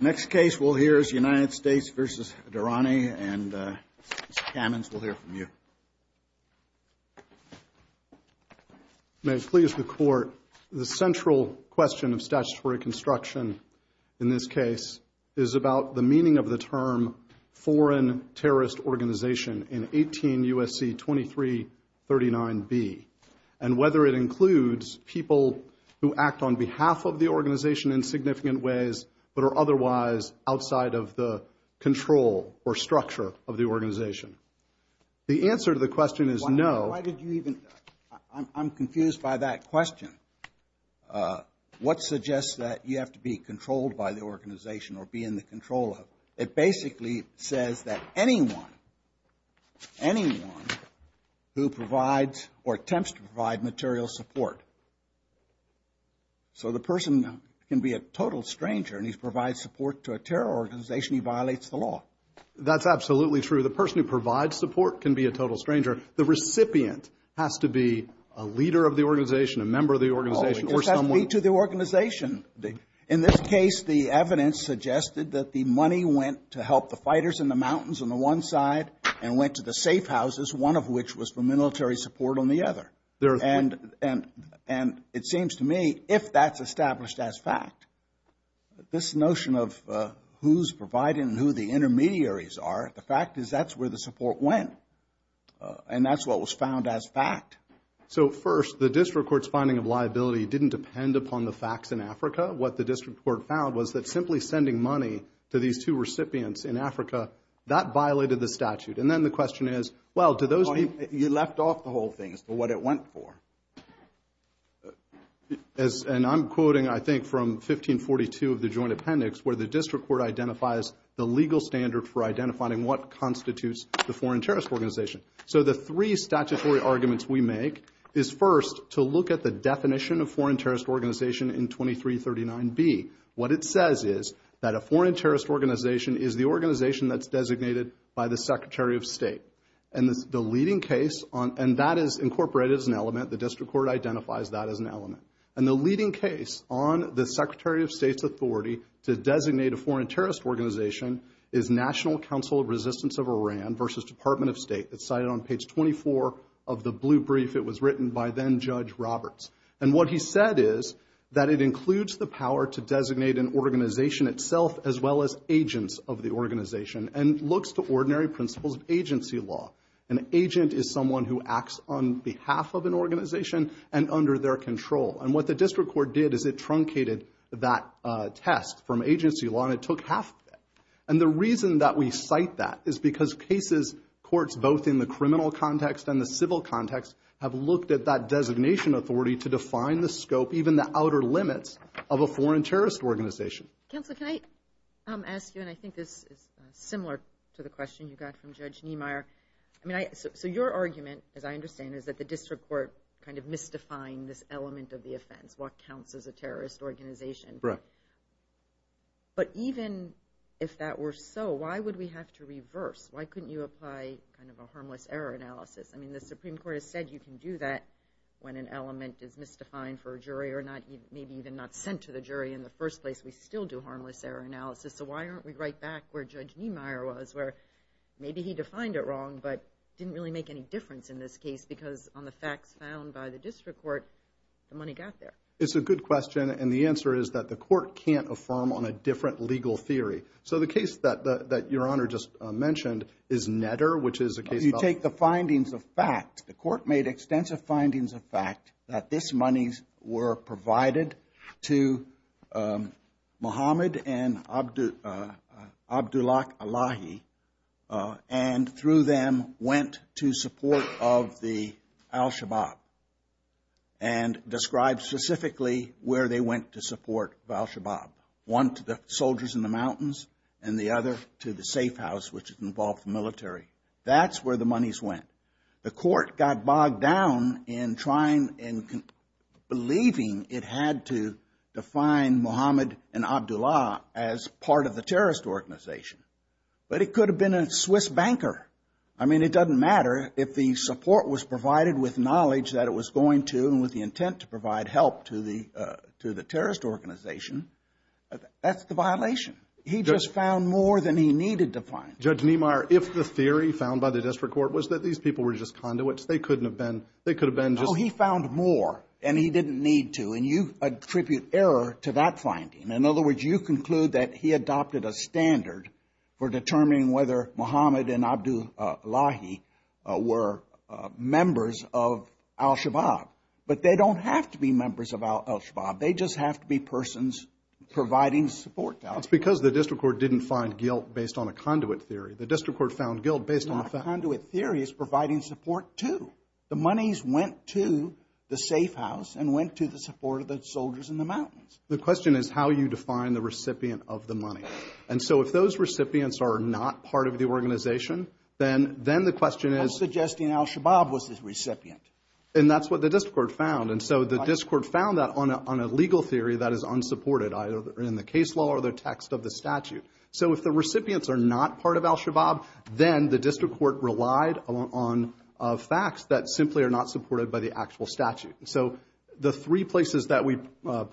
Next case we'll hear is United States v. Dhirane, and Mr. Kamens, we'll hear from you. May it please the Court, the central question of statutory construction in this case is about the meaning of the term foreign terrorist organization in 18 U.S.C. 2339b, and whether it includes people who act on behalf of the organization in significant ways but are otherwise outside of the control or structure of the organization. The answer to the question is no. Why did you even, I'm confused by that question. What suggests that you have to be controlled by the organization or be in the control of? It basically says that anyone, anyone who provides or attempts to provide material support. So the person can be a total stranger and he provides support to a terror organization, he violates the law. That's absolutely true. The person who provides support can be a total stranger. The recipient has to be a leader of the organization, a member of the organization. It has to be to the organization. In this case, the evidence suggested that the money went to help the fighters in the mountains on the one side and went to the safe houses, one of which was for military support on the other. And it seems to me, if that's established as fact, this notion of who's providing and who the intermediaries are, the fact is that's where the support went. And that's what was found as fact. So first, the district court's finding of liability didn't depend upon the facts in Africa. What the district court found was that simply sending money to these two recipients in Africa, that violated the statute. And then the question is, well, do those people... You left off the whole thing as to what it went for. And I'm quoting, I think, from 1542 of the Joint Appendix, where the district court identifies the legal standard for identifying what constitutes the foreign terrorist organization. So the three statutory arguments we make is, first, to look at the definition of foreign terrorist organization in 2339B. What it says is that a foreign terrorist organization is the organization that's designated by the Secretary of State. And that is incorporated as an element. The district court identifies that as an element. And the leading case on the Secretary of State's authority to designate a foreign terrorist organization is National Council of Resistance of Iran versus Department of State. It's cited on page 24 of the blue brief. It was written by then-Judge Roberts. And what he said is that it includes the power to designate an organization itself, as well as agents of the organization, and looks to ordinary principles of agency law. An agent is someone who acts on behalf of an organization and under their control. And what the district court did is it truncated that test from agency law, and it took half of that. And the reason that we cite that is because cases, courts both in the criminal context and the civil context, have looked at that designation authority to define the scope, even the outer limits, of a foreign terrorist organization. Counsel, can I ask you, and I think this is similar to the question you got from Judge Niemeyer. I mean, so your argument, as I understand it, is that the district court kind of mystified this element of the offense, what counts as a terrorist organization. Right. But even if that were so, why would we have to reverse? Why couldn't you apply kind of a harmless error analysis? I mean, the Supreme Court has said you can do that when an element is mystified for a jury or maybe even not sent to the jury in the first place. We still do harmless error analysis, so why aren't we right back where Judge Niemeyer was, where maybe he defined it wrong but didn't really make any difference in this case because on the facts found by the district court, the money got there. It's a good question, and the answer is that the court can't affirm on a different legal theory. So the case that Your Honor just mentioned is Netter, which is a case about— provided to Mohammed and Abdullak Alahi and through them went to support of the al-Shabaab and described specifically where they went to support of al-Shabaab, one to the soldiers in the mountains and the other to the safe house, which involved the military. That's where the monies went. The court got bogged down in trying and believing it had to define Mohammed and Abdullak as part of the terrorist organization, but it could have been a Swiss banker. I mean, it doesn't matter if the support was provided with knowledge that it was going to and with the intent to provide help to the terrorist organization. That's the violation. He just found more than he needed to find. Judge Niemeyer, if the theory found by the district court was that these people were just conduits, they couldn't have been—they could have been just— Oh, he found more, and he didn't need to, and you attribute error to that finding. In other words, you conclude that he adopted a standard for determining whether Mohammed and Abdullahi were members of al-Shabaab, but they don't have to be members of al-Shabaab. It's because the district court didn't find guilt based on a conduit theory. The district court found guilt based on a fact. Conduit theory is providing support to. The monies went to the safe house and went to the support of the soldiers in the mountains. The question is how you define the recipient of the money. And so if those recipients are not part of the organization, then the question is— I'm suggesting al-Shabaab was the recipient. And that's what the district court found. And so the district court found that on a legal theory that is unsupported, either in the case law or the text of the statute. So if the recipients are not part of al-Shabaab, then the district court relied on facts that simply are not supported by the actual statute. So the three places that we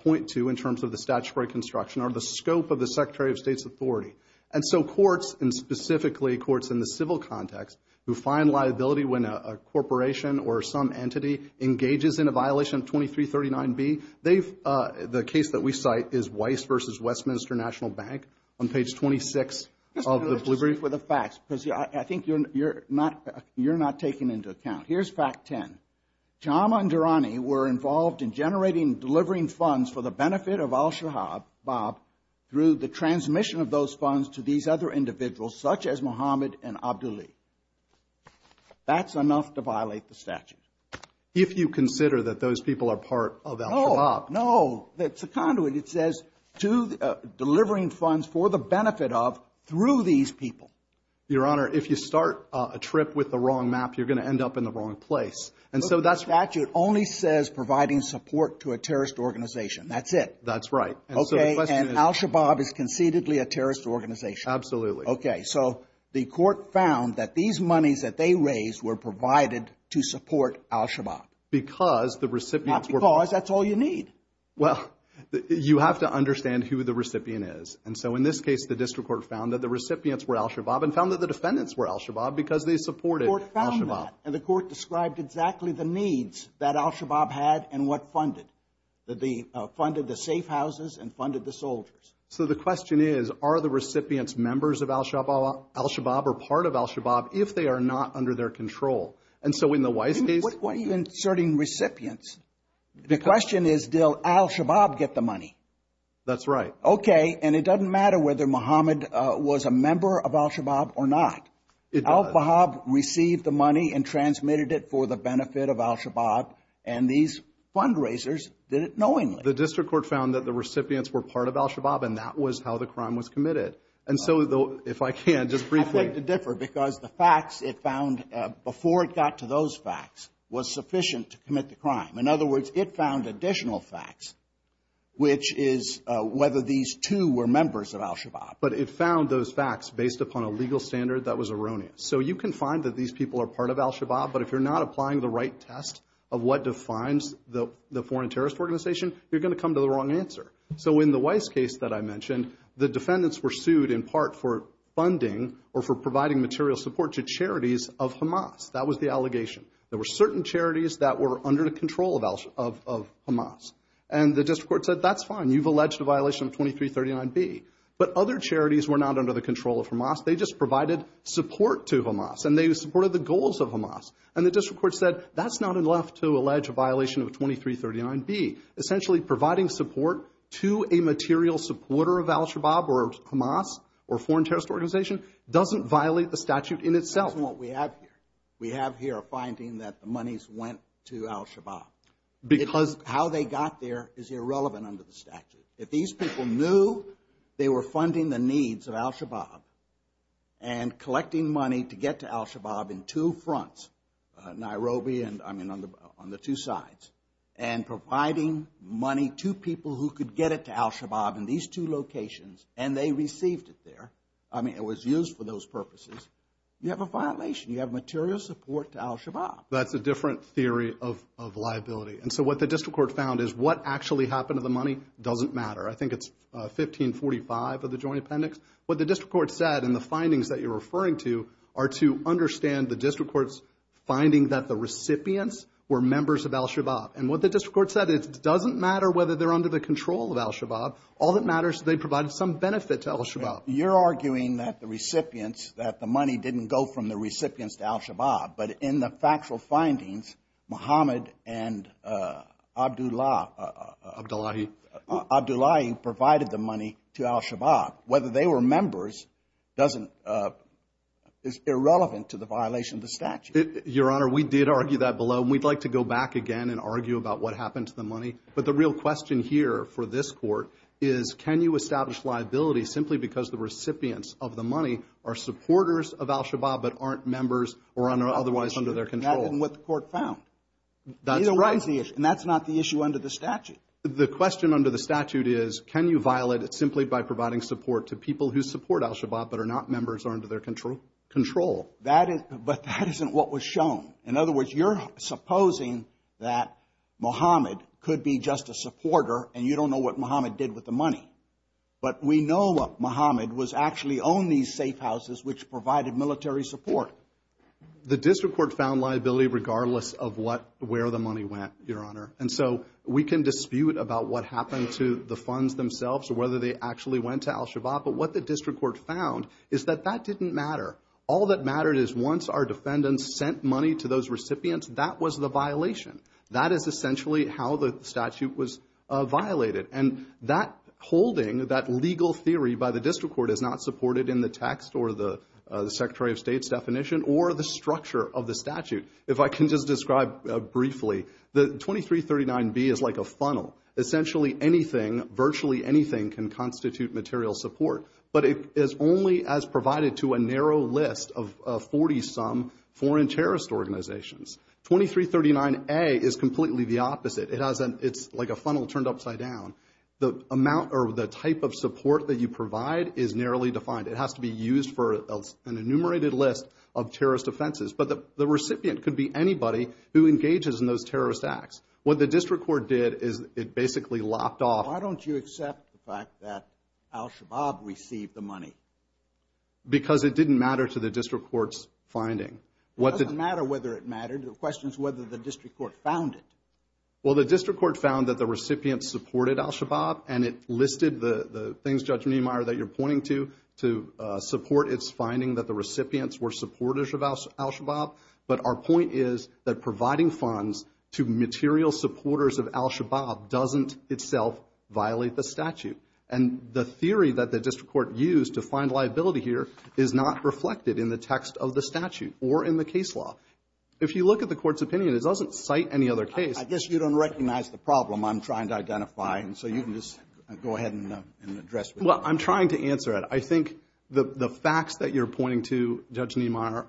point to in terms of the statutory construction are the scope of the Secretary of State's authority. And so courts, and specifically courts in the civil context, who find liability when a corporation or some entity engages in a violation of 2339B, the case that we cite is Weiss v. Westminster National Bank on page 26 of the Blue Brief. Let's just be brief with the facts because I think you're not taking into account. Here's fact 10. Jama and Durrani were involved in generating and delivering funds for the benefit of al-Shabaab through the transmission of those funds to these other individuals such as Mohammed and Abdullahi. That's enough to violate the statute. If you consider that those people are part of al-Shabaab. No, no. It's a conduit. It says delivering funds for the benefit of through these people. Your Honor, if you start a trip with the wrong map, you're going to end up in the wrong place. And so that's right. The statute only says providing support to a terrorist organization. That's it. That's right. Okay. And al-Shabaab is concededly a terrorist organization. Absolutely. Okay. So the court found that these monies that they raised were provided to support al-Shabaab. Because the recipients were. Not because. That's all you need. Well, you have to understand who the recipient is. And so in this case, the district court found that the recipients were al-Shabaab and found that the defendants were al-Shabaab because they supported al-Shabaab. The court found that. And the court described exactly the needs that al-Shabaab had and what funded. That they funded the safe houses and funded the soldiers. So the question is, are the recipients members of al-Shabaab or part of al-Shabaab if they are not under their control? And so in the wise case. What are you inserting recipients? The question is, did al-Shabaab get the money? That's right. And it doesn't matter whether Mohammed was a member of al-Shabaab or not. It does. Al-Bahab received the money and transmitted it for the benefit of al-Shabaab. And these fundraisers did it knowingly. The district court found that the recipients were part of al-Shabaab and that was how the crime was committed. And so if I can, just briefly. I'd like to differ because the facts it found before it got to those facts was sufficient to commit the crime. In other words, it found additional facts, which is whether these two were members of al-Shabaab. But it found those facts based upon a legal standard that was erroneous. So you can find that these people are part of al-Shabaab. But if you're not applying the right test of what defines the foreign terrorist organization, you're going to come to the wrong answer. So in the Weiss case that I mentioned, the defendants were sued in part for funding or for providing material support to charities of Hamas. That was the allegation. There were certain charities that were under the control of Hamas. And the district court said, that's fine. You've alleged a violation of 2339B. But other charities were not under the control of Hamas. They just provided support to Hamas. And they supported the goals of Hamas. And the district court said, that's not enough to allege a violation of 2339B. Essentially providing support to a material supporter of al-Shabaab or Hamas or foreign terrorist organization doesn't violate the statute in itself. That's what we have here. We have here a finding that the monies went to al-Shabaab. Because how they got there is irrelevant under the statute. If these people knew they were funding the needs of al-Shabaab and collecting money to get to al-Shabaab in two fronts, Nairobi and, I mean, on the two sides, and providing money to people who could get it to al-Shabaab in these two locations, and they received it there. I mean, it was used for those purposes. You have a violation. You have material support to al-Shabaab. That's a different theory of liability. And so what the district court found is what actually happened to the money doesn't matter. I think it's 1545 of the Joint Appendix. What the district court said in the findings that you're referring to are to understand the district court's finding that the recipients were members of al-Shabaab. And what the district court said is it doesn't matter whether they're under the control of al-Shabaab. All that matters is they provided some benefit to al-Shabaab. You're arguing that the recipients, that the money didn't go from the recipients to al-Shabaab, but in the factual findings, Muhammad and Abdullah. Abdullahi. Abdullahi provided the money to al-Shabaab. Whether they were members is irrelevant to the violation of the statute. Your Honor, we did argue that below, and we'd like to go back again and argue about what happened to the money. But the real question here for this court is can you establish liability simply because the recipients of the money are supporters of al-Shabaab but aren't members or otherwise under their control. That's what the court found. That's right. And that's not the issue under the statute. The question under the statute is can you violate it simply by providing support to people who support al-Shabaab but are not members or under their control. But that isn't what was shown. In other words, you're supposing that Muhammad could be just a supporter, and you don't know what Muhammad did with the money. But we know what Muhammad was actually own these safe houses which provided military support. The district court found liability regardless of where the money went, Your Honor. And so we can dispute about what happened to the funds themselves or whether they actually went to al-Shabaab. But what the district court found is that that didn't matter. All that mattered is once our defendants sent money to those recipients, that was the violation. That is essentially how the statute was violated. And that holding, that legal theory by the district court, is not supported in the text or the Secretary of State's definition or the structure of the statute. If I can just describe briefly, the 2339B is like a funnel. Essentially anything, virtually anything, can constitute material support. But it is only as provided to a narrow list of 40-some foreign terrorist organizations. 2339A is completely the opposite. It's like a funnel turned upside down. The amount or the type of support that you provide is narrowly defined. It has to be used for an enumerated list of terrorist offenses. But the recipient could be anybody who engages in those terrorist acts. What the district court did is it basically lopped off. Why don't you accept the fact that al-Shabaab received the money? Because it didn't matter to the district court's finding. It doesn't matter whether it mattered. The question is whether the district court found it. Well, the district court found that the recipients supported al-Shabaab, and it listed the things, Judge Niemeyer, that you're pointing to, to support its finding that the recipients were supporters of al-Shabaab. But our point is that providing funds to material supporters of al-Shabaab doesn't itself violate the statute. And the theory that the district court used to find liability here is not reflected in the text of the statute or in the case law. If you look at the court's opinion, it doesn't cite any other case. I guess you don't recognize the problem I'm trying to identify, and so you can just go ahead and address it. Well, I'm trying to answer it. I think the facts that you're pointing to, Judge Niemeyer,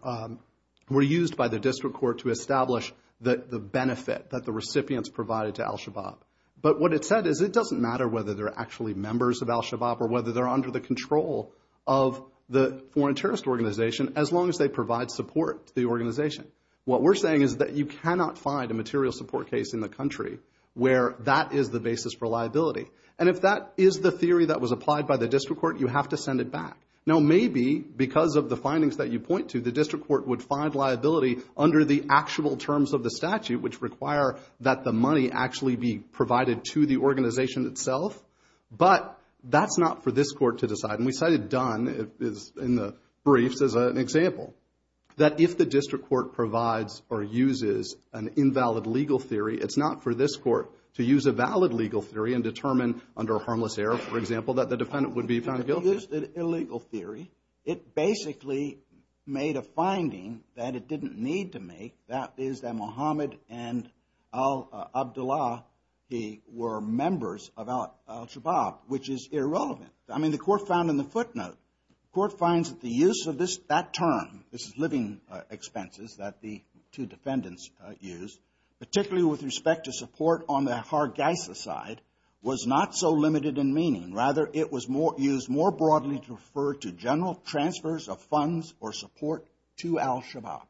were used by the district court to establish the benefit that the recipients provided to al-Shabaab. But what it said is it doesn't matter whether they're actually members of al-Shabaab or whether they're under the control of the foreign terrorist organization as long as they provide support to the organization. What we're saying is that you cannot find a material support case in the country where that is the basis for liability. And if that is the theory that was applied by the district court, you have to send it back. Now, maybe because of the findings that you point to, the district court would find liability under the actual terms of the statute which require that the money actually be provided to the organization itself, but that's not for this court to decide. And we cited Dunn in the briefs as an example, that if the district court provides or uses an invalid legal theory, it's not for this court to use a valid legal theory and determine under a harmless error, for example, that the defendant would be found guilty. It used an illegal theory. It basically made a finding that it didn't need to make, that is that Mohammed and al-Abdullah were members of al-Shabaab, which is irrelevant. I mean, the court found in the footnote, the court finds that the use of that term, this is living expenses that the two defendants used, particularly with respect to support on the Hargeisa side, was not so limited in meaning. Rather, it was used more broadly to refer to general transfers of funds or support to al-Shabaab.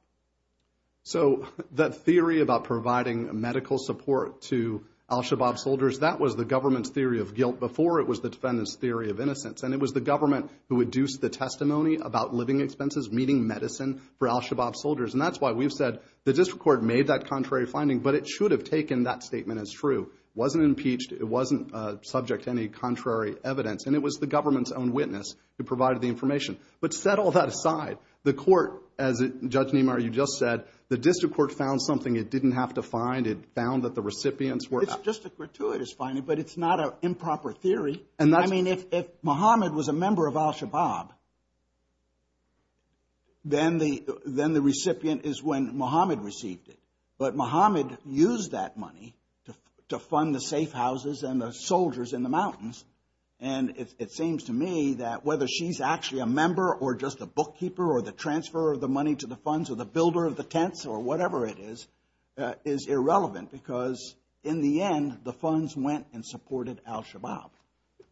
So that theory about providing medical support to al-Shabaab soldiers, that was the government's theory of guilt before it was the defendant's theory of innocence, and it was the government who induced the testimony about living expenses, meaning medicine, for al-Shabaab soldiers. And that's why we've said the district court made that contrary finding, but it should have taken that statement as true. It wasn't impeached. It wasn't subject to any contrary evidence, and it was the government's own witness who provided the information. But set all that aside, the court, as Judge Nimar, you just said, the district court found something it didn't have to find. It found that the recipients were not. It's just a gratuitous finding, but it's not an improper theory. I mean, if Mohammed was a member of al-Shabaab, then the recipient is when Mohammed received it. But Mohammed used that money to fund the safe houses and the soldiers in the mountains, and it seems to me that whether she's actually a member or just a bookkeeper or the transfer of the money to the funds or the builder of the tents or whatever it is, is irrelevant because, in the end, the funds went and supported al-Shabaab.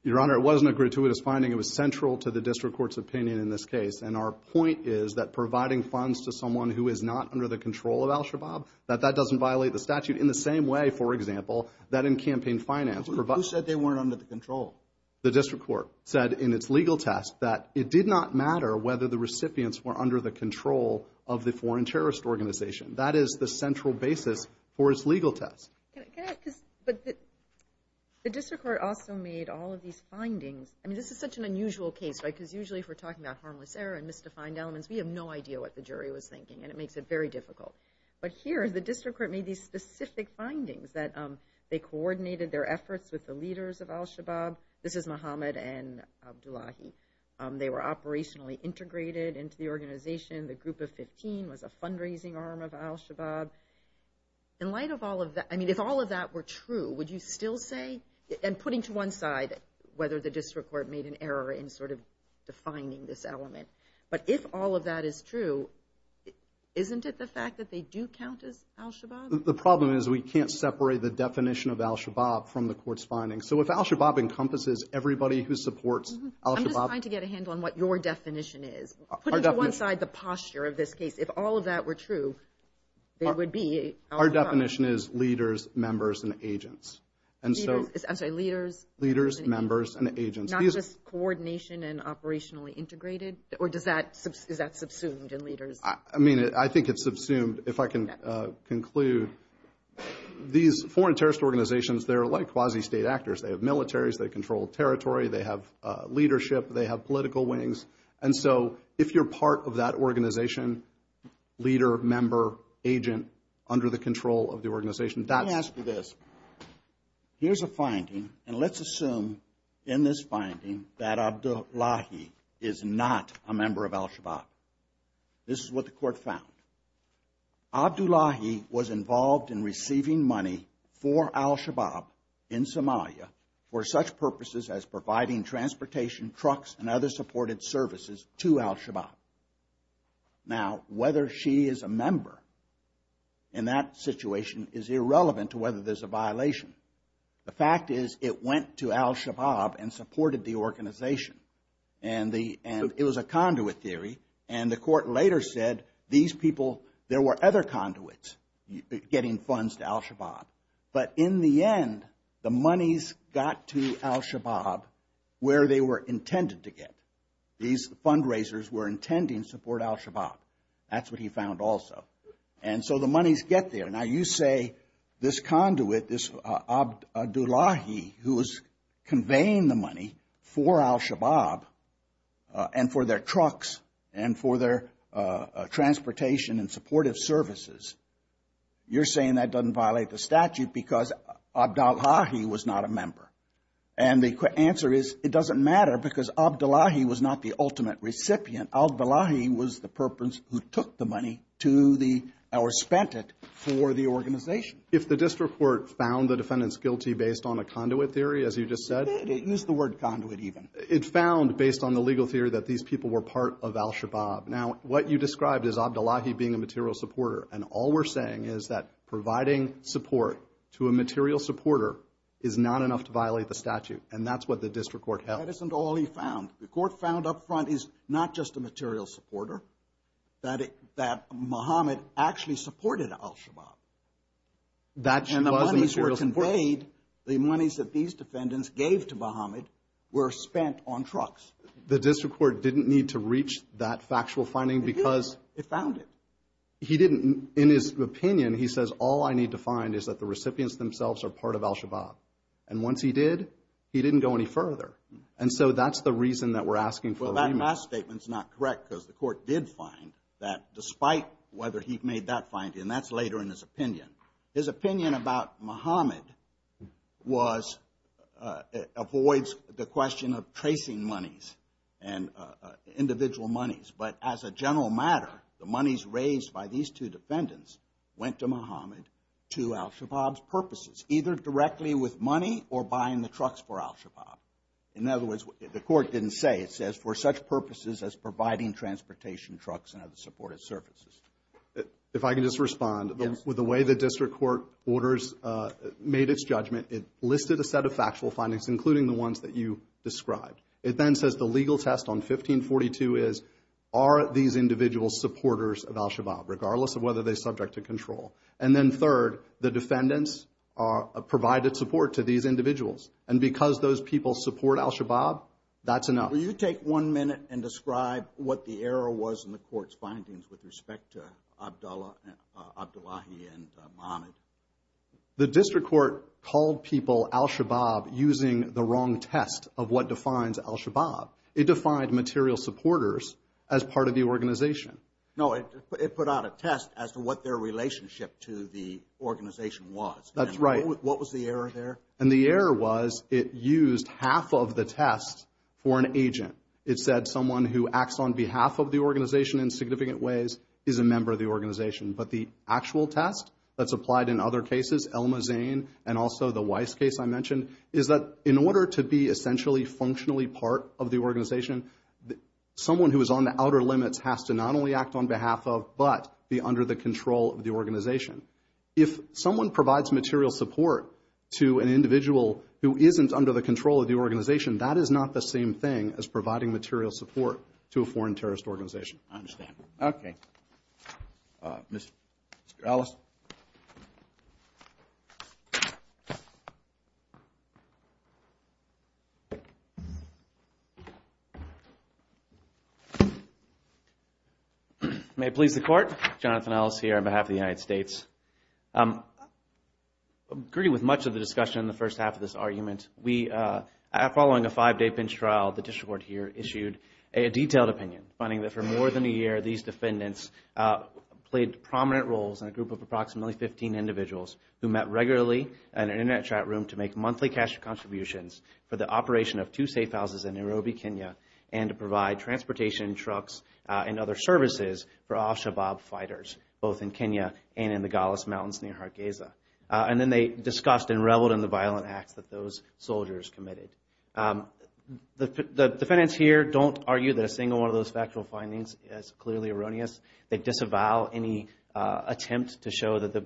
Your Honor, it wasn't a gratuitous finding. It was central to the district court's opinion in this case, and our point is that providing funds to someone who is not under the control of al-Shabaab, that that doesn't violate the statute in the same way, for example, that in campaign finance. Who said they weren't under the control? The district court said in its legal test that it did not matter whether the recipients were under the control of the foreign terrorist organization. That is the central basis for its legal test. But the district court also made all of these findings. I mean, this is such an unusual case, right, because usually if we're talking about harmless error and misdefined elements, we have no idea what the jury was thinking, and it makes it very difficult. But here, the district court made these specific findings that they coordinated their efforts with the leaders of al-Shabaab. This is Mohammed and Abdullahi. They were operationally integrated into the organization. The group of 15 was a fundraising arm of al-Shabaab. In light of all of that, I mean, if all of that were true, would you still say, and putting to one side whether the district court made an error in sort of defining this element, but if all of that is true, isn't it the fact that they do count as al-Shabaab? The problem is we can't separate the definition of al-Shabaab from the court's findings. So if al-Shabaab encompasses everybody who supports al-Shabaab. I'm just trying to get a handle on what your definition is. Putting to one side the posture of this case, if all of that were true, they would be al-Shabaab. Our definition is leaders, members, and agents. I'm sorry, leaders, members, and agents. Not just coordination and operationally integrated? Or is that subsumed in leaders? I mean, I think it's subsumed. If I can conclude, these foreign terrorist organizations, they're like quasi-state actors. They have militaries. They control territory. They have leadership. And so if you're part of that organization, leader, member, agent, under the control of the organization, that's... Let me ask you this. Here's a finding, and let's assume in this finding that Abdullahi is not a member of al-Shabaab. This is what the court found. Abdullahi was involved in receiving money for al-Shabaab in Somalia for such purposes as providing transportation, trucks, and other supported services to al-Shabaab. Now, whether she is a member in that situation is irrelevant to whether there's a violation. The fact is it went to al-Shabaab and supported the organization. And it was a conduit theory. And the court later said these people, there were other conduits getting funds to al-Shabaab. But in the end, the monies got to al-Shabaab where they were intended to get. These fundraisers were intending to support al-Shabaab. That's what he found also. And so the monies get there. Now, you say this conduit, this Abdullahi, who was conveying the money for al-Shabaab and for their trucks and for their transportation and supportive services, you're saying that doesn't violate the statute because Abdullahi was not a member. And the answer is it doesn't matter because Abdullahi was not the ultimate recipient. Abdullahi was the purpose who took the money or spent it for the organization. If the district court found the defendants guilty based on a conduit theory, as you just said? It did. It used the word conduit even. It found, based on the legal theory, that these people were part of al-Shabaab. Now, what you described is Abdullahi being a material supporter. And all we're saying is that providing support to a material supporter is not enough to violate the statute. And that's what the district court held. That isn't all he found. The court found up front he's not just a material supporter, that Mohammed actually supported al-Shabaab. And the monies were conveyed, the monies that these defendants gave to Mohammed were spent on trucks. The district court didn't need to reach that factual finding because... It did. It found it. He didn't. In his opinion, he says, all I need to find is that the recipients themselves are part of al-Shabaab. And once he did, he didn't go any further. And so that's the reason that we're asking for... Well, that last statement's not correct because the court did find that, despite whether he'd made that finding, and that's later in his opinion, his opinion about Mohammed was... avoids the question of tracing monies and individual monies. But as a general matter, went to Mohammed to al-Shabaab's purposes, either directly with money or buying the trucks for al-Shabaab. In other words, the court didn't say. It says, for such purposes as providing transportation trucks and other supportive services. If I can just respond, the way the district court orders made its judgment, it listed a set of factual findings, including the ones that you described. It then says the legal test on 1542 is, are these individuals supporters of al-Shabaab, regardless of whether they're subject to control? And then third, the defendants provided support to these individuals. And because those people support al-Shabaab, that's enough. Will you take one minute and describe what the error was in the court's findings with respect to Abdullahi and Mohammed? The district court called people al-Shabaab using the wrong test of what defines al-Shabaab. It defined material supporters as part of the organization. No, it put out a test as to what their relationship to the organization was. That's right. What was the error there? And the error was it used half of the test for an agent. It said someone who acts on behalf of the organization in significant ways is a member of the organization. But the actual test that's applied in other cases, Elma Zane and also the Weiss case I mentioned, is that in order to be essentially functionally part of the organization, someone who is on the outer limits has to not only act on behalf of but be under the control of the organization. If someone provides material support to an individual who isn't under the control of the organization, that is not the same thing as providing material support to a foreign terrorist organization. I understand. Okay. Mr. Ellis? May it please the Court, Jonathan Ellis here on behalf of the United States. I agree with much of the discussion in the first half of this argument. Following a five-day pinch trial, the district court here issued a detailed opinion, finding that for more than a year, these defendants played prominent roles in a group of approximately 15 individuals who met regularly in an Internet chat room to make monthly cash contributions for the operation of two safe houses in Nairobi, Kenya, and to provide transportation, trucks, and other services for al-Shabaab fighters, both in Kenya and in the Golis Mountains near Hargeisa. And then they discussed and reveled in the violent acts that those soldiers committed. The defendants here don't argue that a single one of those factual findings is clearly erroneous. They disavow any attempt to show that the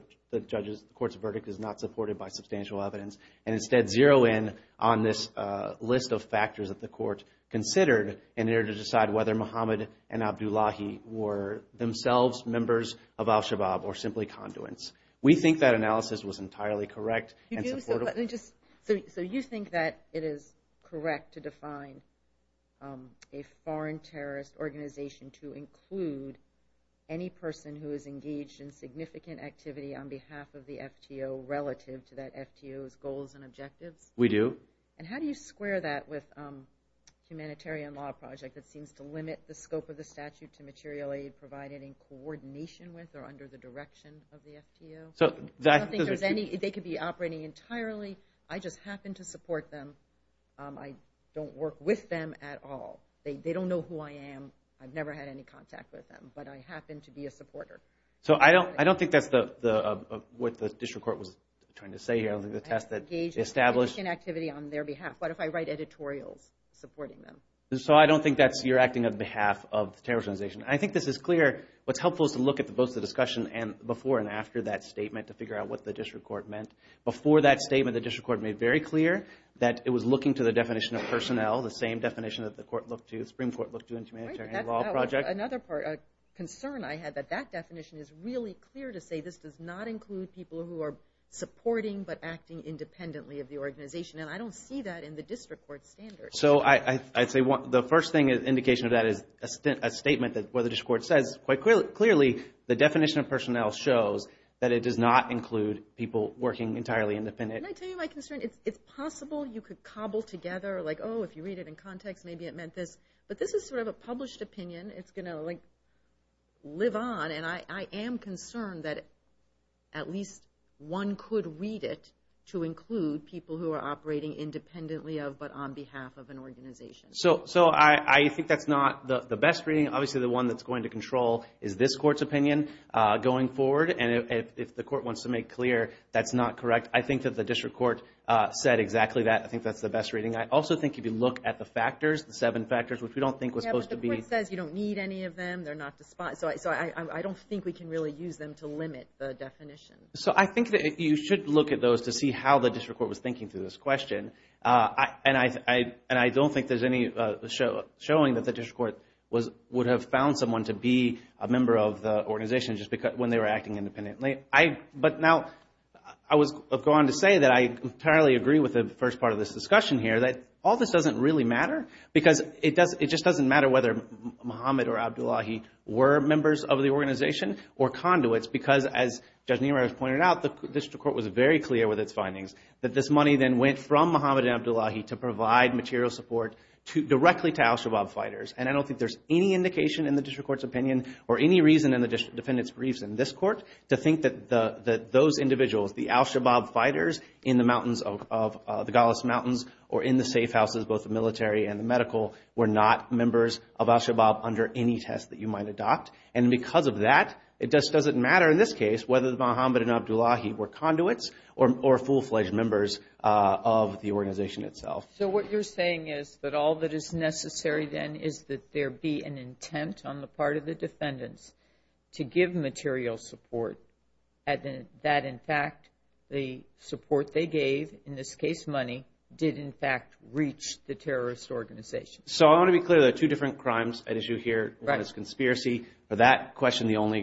court's verdict is not supported by substantial evidence and instead zero in on this list of factors that the court considered in order to decide whether Mohammed and Abdullahi were themselves members of al-Shabaab or simply conduits. We think that analysis was entirely correct and supportive. So you think that it is correct to define a foreign terrorist organization to include any person who is engaged in significant activity on behalf of the FTO relative to that FTO's goals and objectives? We do. And how do you square that with a humanitarian law project that seems to limit the scope of the statute to materially provide any coordination with or under the direction of the FTO? I don't think there's any. They could be operating entirely. I just happen to support them. I don't work with them at all. They don't know who I am. I've never had any contact with them, but I happen to be a supporter. So I don't think that's what the district court was trying to say here. I don't think the test that they established... Engaged in activity on their behalf. What if I write editorials supporting them? So I don't think that's your acting on behalf of the terrorist organization. I think this is clear. What's helpful is to look at both the discussion before and after that statement to figure out what the district court meant. Before that statement, the district court made very clear that it was looking to the definition of personnel, the same definition that the Supreme Court looked to in the humanitarian law project. Another concern I had, that that definition is really clear to say this does not include people who are supporting but acting independently of the organization. And I don't see that in the district court standards. So I'd say the first indication of that is a statement where the district court says, quite clearly, the definition of personnel shows that it does not include people working entirely independently. Can I tell you my concern? It's possible you could cobble together, like, oh, if you read it in context, maybe it meant this. But this is sort of a published opinion. It's going to, like, live on. And I am concerned that at least one could read it to include people who are operating independently of but on behalf of an organization. So I think that's not the best reading. Obviously, the one that's going to control is this court's opinion going forward. And if the court wants to make clear that's not correct, I think that the district court said exactly that. I think that's the best reading. I also think if you look at the factors, the seven factors, which we don't think was supposed to be... Yeah, but the court says you don't need any of them. They're not despised. So I don't think we can really use them to limit the definition. So I think that you should look at those to see how the district court was thinking through this question. And I don't think there's any showing that the district court would have found someone to be a member of the organization when they were acting independently. But now, I was going to say that I entirely agree with the first part of this discussion here, that all this doesn't really matter because it just doesn't matter whether Muhammad or Abdullahi were members of the organization or conduits because, as Judge Niraj pointed out, the district court was very clear with its findings that this money then went from Muhammad and Abdullahi to provide material support directly to al-Shabaab fighters. And I don't think there's any indication in the district court's opinion or any reason in the defendant's briefs in this court to think that those individuals, the al-Shabaab fighters, in the mountains of the Golis Mountains or in the safe houses, both the military and the medical, were not members of al-Shabaab under any test that you might adopt. And because of that, it just doesn't matter in this case whether Muhammad and Abdullahi were conduits or full-fledged members of the organization itself. So what you're saying is that all that is necessary then is that there be an intent on the part of the defendants to give material support, and that, in fact, the support they gave, in this case money, did, in fact, reach the terrorist organization. So I want to be clear. There are two different crimes at issue here. One is conspiracy. For that question, all there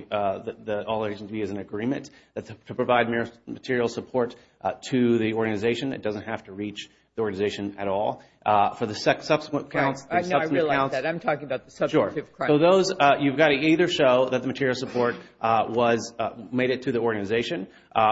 needs to be is an agreement to provide material support to the organization. It doesn't have to reach the organization at all. For the subsequent counts... I realize that. I'm talking about the substantive crimes. So those, you've got to either show that the material support made it to the organization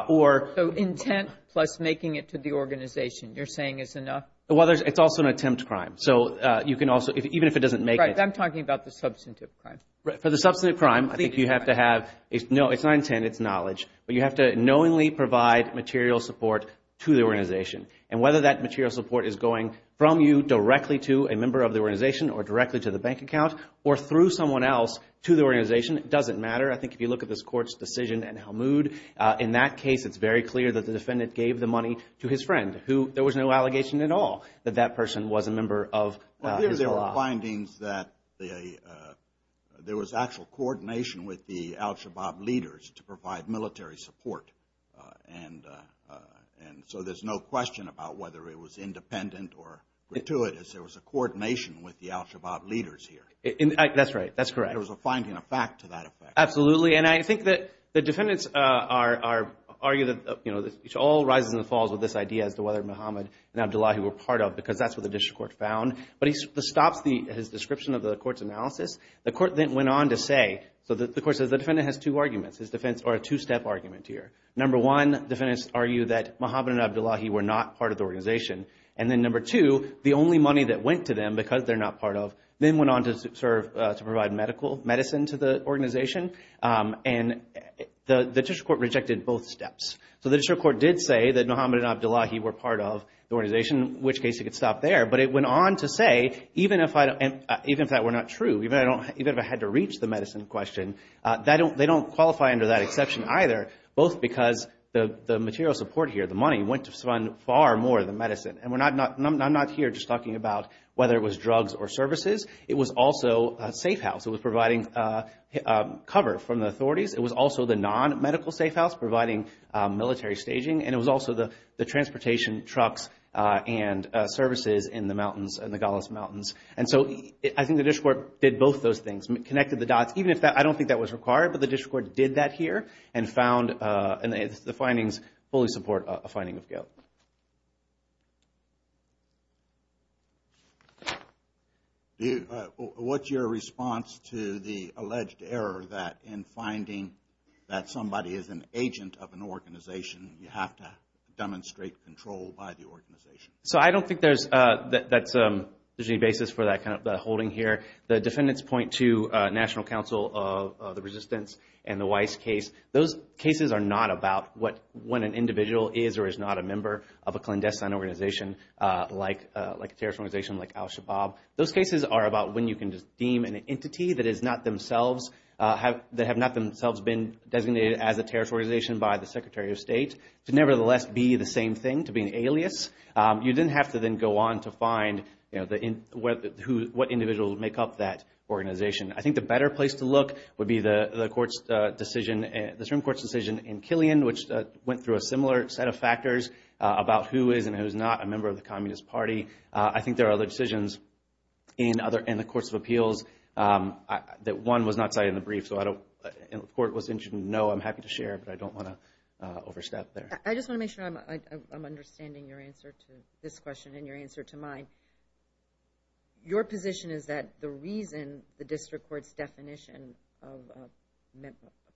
or... So intent plus making it to the organization, you're saying is enough? Well, it's also an attempt crime. So you can also, even if it doesn't make it... Right, I'm talking about the substantive crime. For the substantive crime, I think you have to have, no, it's not intent, it's knowledge, but you have to knowingly provide material support to the organization. And whether that material support is going from you directly to a member of the organization or directly to the bank account, or through someone else to the organization, it doesn't matter. I think if you look at this court's decision in Helmoud, in that case it's very clear that the defendant gave the money to his friend, who there was no allegation at all that that person was a member of... There were findings that there was actual coordination with the al-Shabaab leaders to provide military support. And so there's no question about whether it was independent or gratuitous. There was a coordination with the al-Shabaab leaders here. That's right, that's correct. There was a finding of fact to that effect. Absolutely, and I think that the defendants argue that it all rises and falls with this idea as to whether Mohammed and Abdullahi were part of, because that's what the district court found. But he stops his description of the court's analysis. The court then went on to say, so the court says the defendant has two arguments, or a two-step argument here. And then number two, the only money that went to them, because they're not part of, then went on to provide medicine to the organization. And the district court rejected both steps. So the district court did say that Mohammed and Abdullahi were part of the organization, in which case it could stop there. But it went on to say, even if that were not true, even if I had to reach the medicine question, they don't qualify under that exception either, both because the material support here, the money, went to fund far more than medicine. And I'm not here just talking about whether it was drugs or services. It was also a safe house. It was providing cover from the authorities. It was also the non-medical safe house, providing military staging. And it was also the transportation trucks and services in the mountains, in the Golis Mountains. Even if that, I don't think that was required, but the district court did that here and found the findings fully support a finding of guilt. What's your response to the alleged error that in finding that somebody is an agent of an organization, you have to demonstrate control by the organization? So I don't think there's any basis for that kind of holding here. The defendants point to National Council of the Resistance and the Weiss case. Those cases are not about when an individual is or is not a member of a clandestine organization like a terrorist organization like al-Shabaab. Those cases are about when you can just deem an entity that is not themselves, that have not themselves been designated as a terrorist organization by the Secretary of State, to nevertheless be the same thing, to be an alias. You didn't have to then go on to find what individual would make up that organization. I think the better place to look would be the Supreme Court's decision in Killian, which went through a similar set of factors about who is and who is not a member of the Communist Party. I think there are other decisions in the courts of appeals that one was not cited in the brief, so I don't know if the court was interested. No, I'm happy to share, but I don't want to overstep there. I just want to make sure I'm understanding your answer to this question and your answer to mine. Your position is that the reason the district court's definition of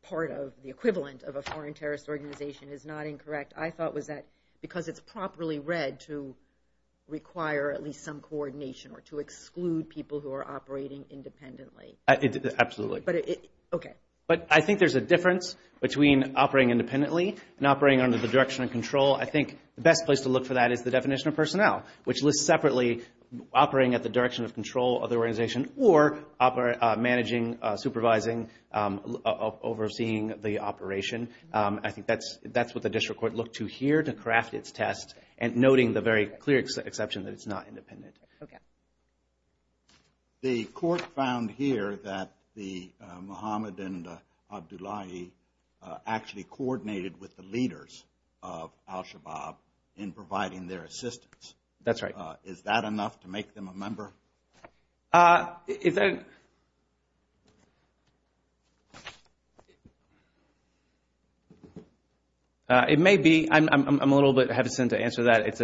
part of, the equivalent of a foreign terrorist organization is not incorrect, I thought was that because it's properly read to require at least some coordination or to exclude people who are operating independently. Absolutely. But I think there's a difference between operating independently and operating under the direction of control. I think the best place to look for that is the definition of personnel, which lists separately operating at the direction of control of the organization or managing, supervising, overseeing the operation. I think that's what the district court looked to here to craft its test and noting the very clear exception that it's not independent. Okay. The court found here that Mohammed and Abdullahi actually coordinated with the leaders of al-Shabaab in providing their assistance. That's right. Is that enough to make them a member? It may be. I'm a little bit hesitant to answer that.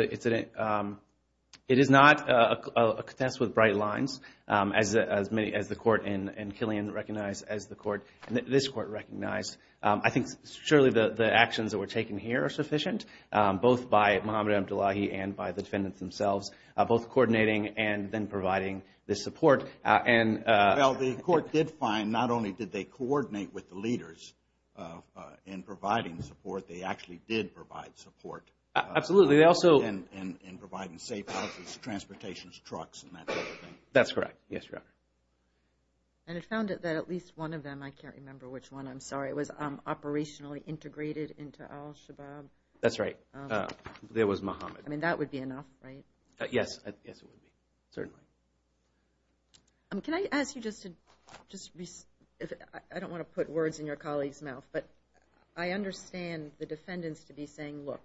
It is not a contest with bright lines, as the court and Killian recognize, as the court and this court recognize. I think surely the actions that were taken here are sufficient, both by Mohammed and Abdullahi and by the defendants themselves, both coordinating and then providing the support. Well, the court did find not only did they coordinate with the leaders in providing support, they actually did provide support. Absolutely. And providing safe houses, transportation, trucks, and that sort of thing. That's correct. Yes, Your Honor. And it found that at least one of them, I can't remember which one, I'm sorry, was operationally integrated into al-Shabaab. That's right. There was Mohammed. I mean, that would be enough, right? Yes. Yes, it would be. Certainly. Can I ask you just to be, I don't want to put words in your colleague's mouth, but I understand the defendants to be saying, look,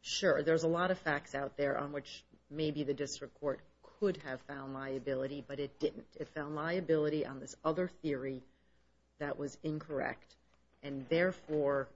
sure, there's a lot of facts out there on which maybe the district court could have found liability, but it didn't. It found liability on this other theory that was incorrect, and therefore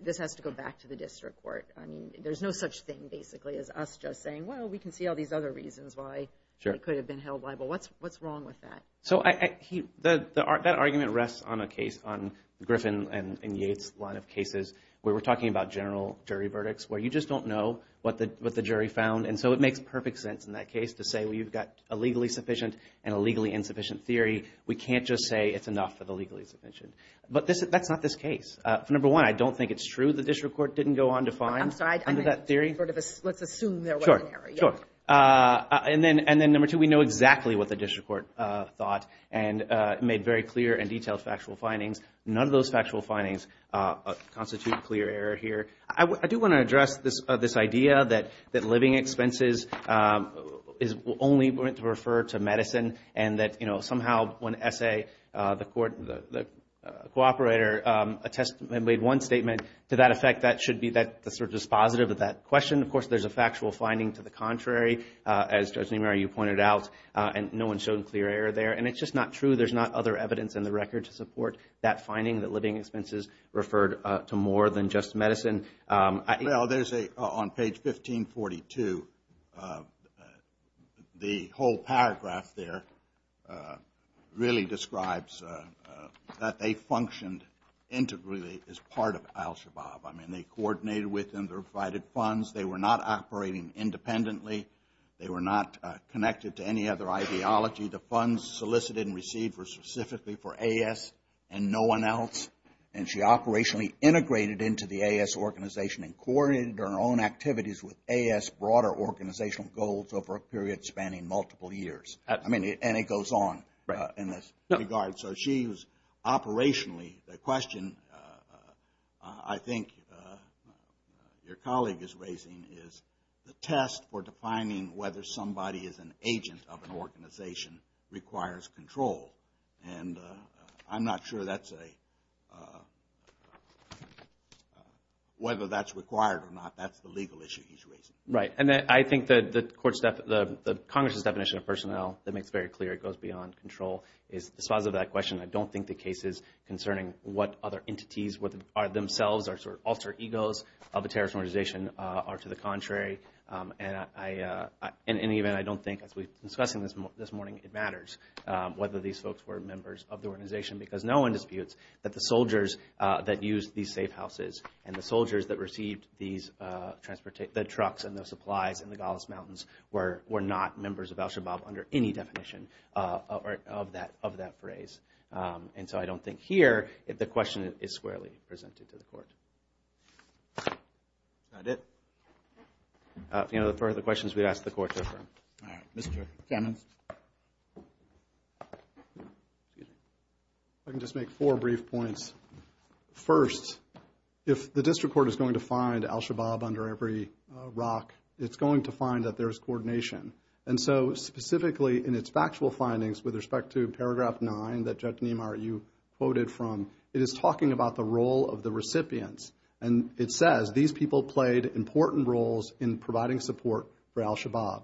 this has to go back to the district court. I mean, there's no such thing, basically, as us just saying, well, we can see all these other reasons why it could have been held liable. What's wrong with that? So that argument rests on a case, on Griffin and Yates' line of cases, where we're talking about general jury verdicts, where you just don't know what the jury found, and so it makes perfect sense in that case to say, well, you've got a legally sufficient and a legally insufficient theory. We can't just say it's enough for the legally sufficient. But that's not this case. Number one, I don't think it's true the district court didn't go on to find under that theory. I'm sorry. Let's assume there was an error. Sure, sure. And then number two, we know exactly what the district court thought and made very clear and detailed factual findings. None of those factual findings constitute a clear error here. I do want to address this idea that living expenses is only going to refer to medicine and that somehow when S.A., the cooperator, made one statement to that effect, that should be sort of dispositive of that question. Of course, there's a factual finding to the contrary. As Judge Nimary, you pointed out, no one showed a clear error there. And it's just not true. There's not other evidence in the record to support that finding, that living expenses referred to more than just medicine. Well, there's a, on page 1542, the whole paragraph there really describes that they functioned integrally as part of Al-Shabaab. I mean, they coordinated with and provided funds. They were not operating independently. They were not connected to any other ideology. The funds solicited and received were specifically for A.S. and no one else. And she operationally integrated into the A.S. organization and coordinated her own activities with A.S. broader organizational goals over a period spanning multiple years. I mean, and it goes on in this regard. So she was operationally, the question I think your colleague is raising is the test for defining whether somebody is an agent of an organization requires control. And I'm not sure that's a, whether that's required or not. That's the legal issue he's raising. Right. And I think that the court's, the Congress's definition of personnel that makes very clear it goes beyond control is dispositive of that question. I don't think the cases concerning what other entities are themselves or sort of alter egos of a terrorist organization are to the contrary. And I, in any event, I don't think, as we've been discussing this morning, it matters whether these folks were members of the organization because no one disputes that the soldiers that used these safe houses and the soldiers that received these, the trucks and the supplies in the Golis Mountains were not members of al-Shabaab under any definition of that phrase. And so I don't think here the question is squarely presented to the court. Is that it? If you have any further questions, we'd ask the court to refer them. All right. Mr. Kamens. I can just make four brief points. First, if the district court is going to find al-Shabaab under every rock, it's going to find that there is coordination. And so specifically in its factual findings with respect to Paragraph 9 that Judge Niemeyer, you quoted from, it is talking about the role of the recipients. And it says these people played important roles in providing support for al-Shabaab.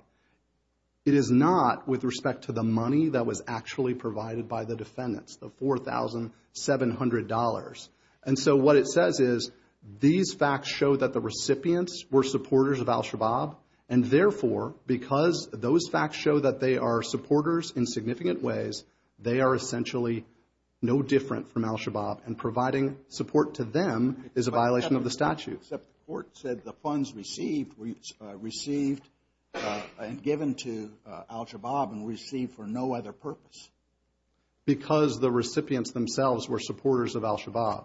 It is not with respect to the money that was actually provided by the defendants, the $4,700. And so what it says is these facts show that the recipients were supporters of al-Shabaab, and therefore, because those facts show that they are supporters in significant ways, they are essentially no different from al-Shabaab, and providing support to them is a violation of the statute. Except the court said the funds received were received and given to al-Shabaab and received for no other purpose. Because the recipients themselves were supporters of al-Shabaab.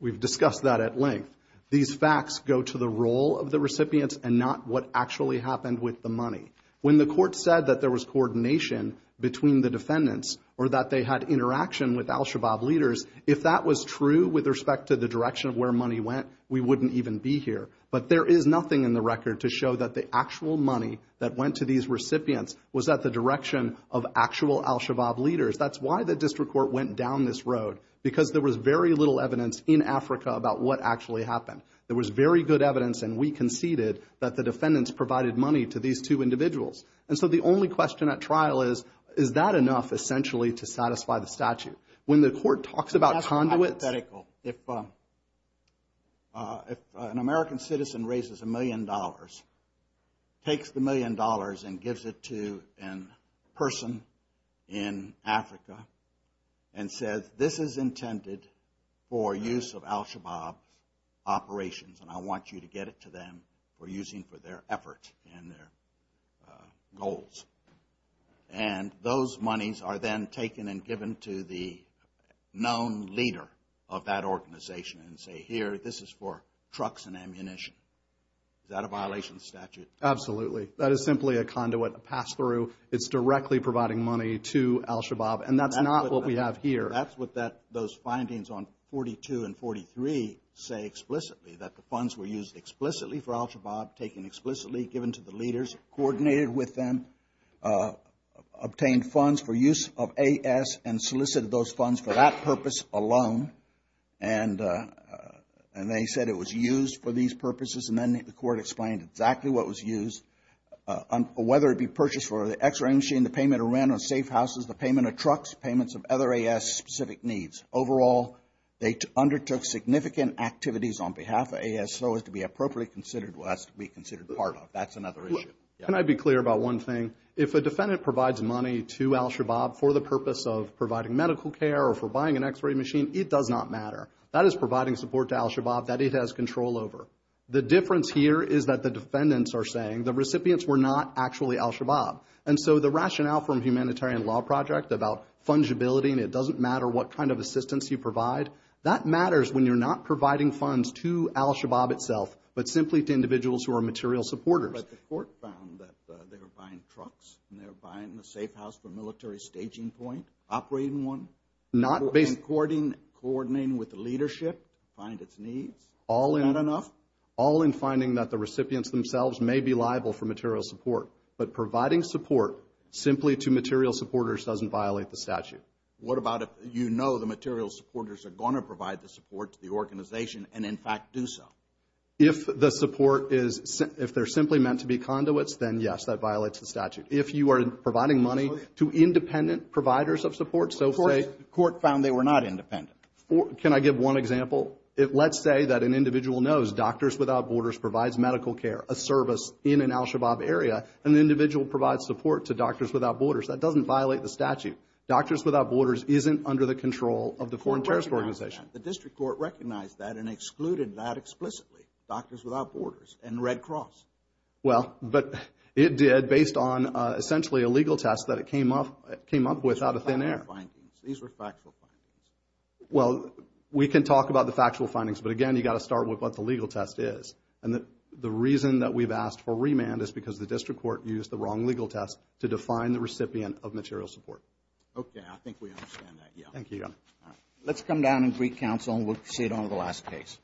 We've discussed that at length. These facts go to the role of the recipients and not what actually happened with the money. When the court said that there was coordination between the defendants or that they had interaction with al-Shabaab leaders, if that was true with respect to the direction of where money went, we wouldn't even be here. But there is nothing in the record to show that the actual money that went to these recipients was at the direction of actual al-Shabaab leaders. That's why the district court went down this road, because there was very little evidence in Africa about what actually happened. There was very good evidence, and we conceded that the defendants provided money to these two individuals. And so the only question at trial is, is that enough essentially to satisfy the statute? When the court talks about conduits... That's hypothetical. If an American citizen raises a million dollars, takes the million dollars and gives it to a person in Africa, and says, this is intended for use of al-Shabaab operations, and I want you to get it to them for using for their effort and their goals. And those monies are then taken and given to the known leader of that organization and say, here, this is for trucks and ammunition. Is that a violation of the statute? Absolutely. That is simply a conduit, a pass-through. It's directly providing money to al-Shabaab, and that's not what we have here. That's what those findings on 42 and 43 say explicitly, that the funds were used explicitly for al-Shabaab, taken explicitly, given to the leaders, coordinated with them, obtained funds for use of AS, and solicited those funds for that purpose alone. And they said it was used for these purposes, and then the court explained exactly what was used, whether it be purchased for the x-ray machine, the payment of rent on safe houses, the payment of trucks, payments of other AS-specific needs. Overall, they undertook significant activities on behalf of AS, so as to be appropriately considered, well, as to be considered part of. That's another issue. Can I be clear about one thing? If a defendant provides money to al-Shabaab for the purpose of providing medical care or for buying an x-ray machine, it does not matter. That is providing support to al-Shabaab that it has control over. The difference here is that the defendants are saying the recipients were not actually al-Shabaab. And so the rationale from the Humanitarian Law Project about fungibility and it doesn't matter what kind of assistance you provide, that matters when you're not providing funds to al-Shabaab itself, but simply to individuals who are material supporters. But the court found that they were buying trucks, and they were buying a safe house for a military staging point, operating one. And coordinating with the leadership to find its needs? Is that enough? All in finding that the recipients themselves may be liable for material support. But providing support simply to material supporters doesn't violate the statute. What about if you know the material supporters are going to provide the support to the organization and, in fact, do so? If the support is simply meant to be conduits, then, yes, that violates the statute. What about if you are providing money to independent providers of support? Of course, the court found they were not independent. Can I give one example? Let's say that an individual knows Doctors Without Borders provides medical care, a service in an al-Shabaab area, and the individual provides support to Doctors Without Borders. That doesn't violate the statute. Doctors Without Borders isn't under the control of the Foreign Terrorist Organization. The district court recognized that and excluded that explicitly, Doctors Without Borders and Red Cross. Well, but it did based on, essentially, a legal test that it came up with out of thin air. These were factual findings. Well, we can talk about the factual findings, but, again, you've got to start with what the legal test is. And the reason that we've asked for remand is because the district court used the wrong legal test to define the recipient of material support. Okay, I think we understand that. Thank you. Let's come down and brief counsel, and we'll proceed on to the last case.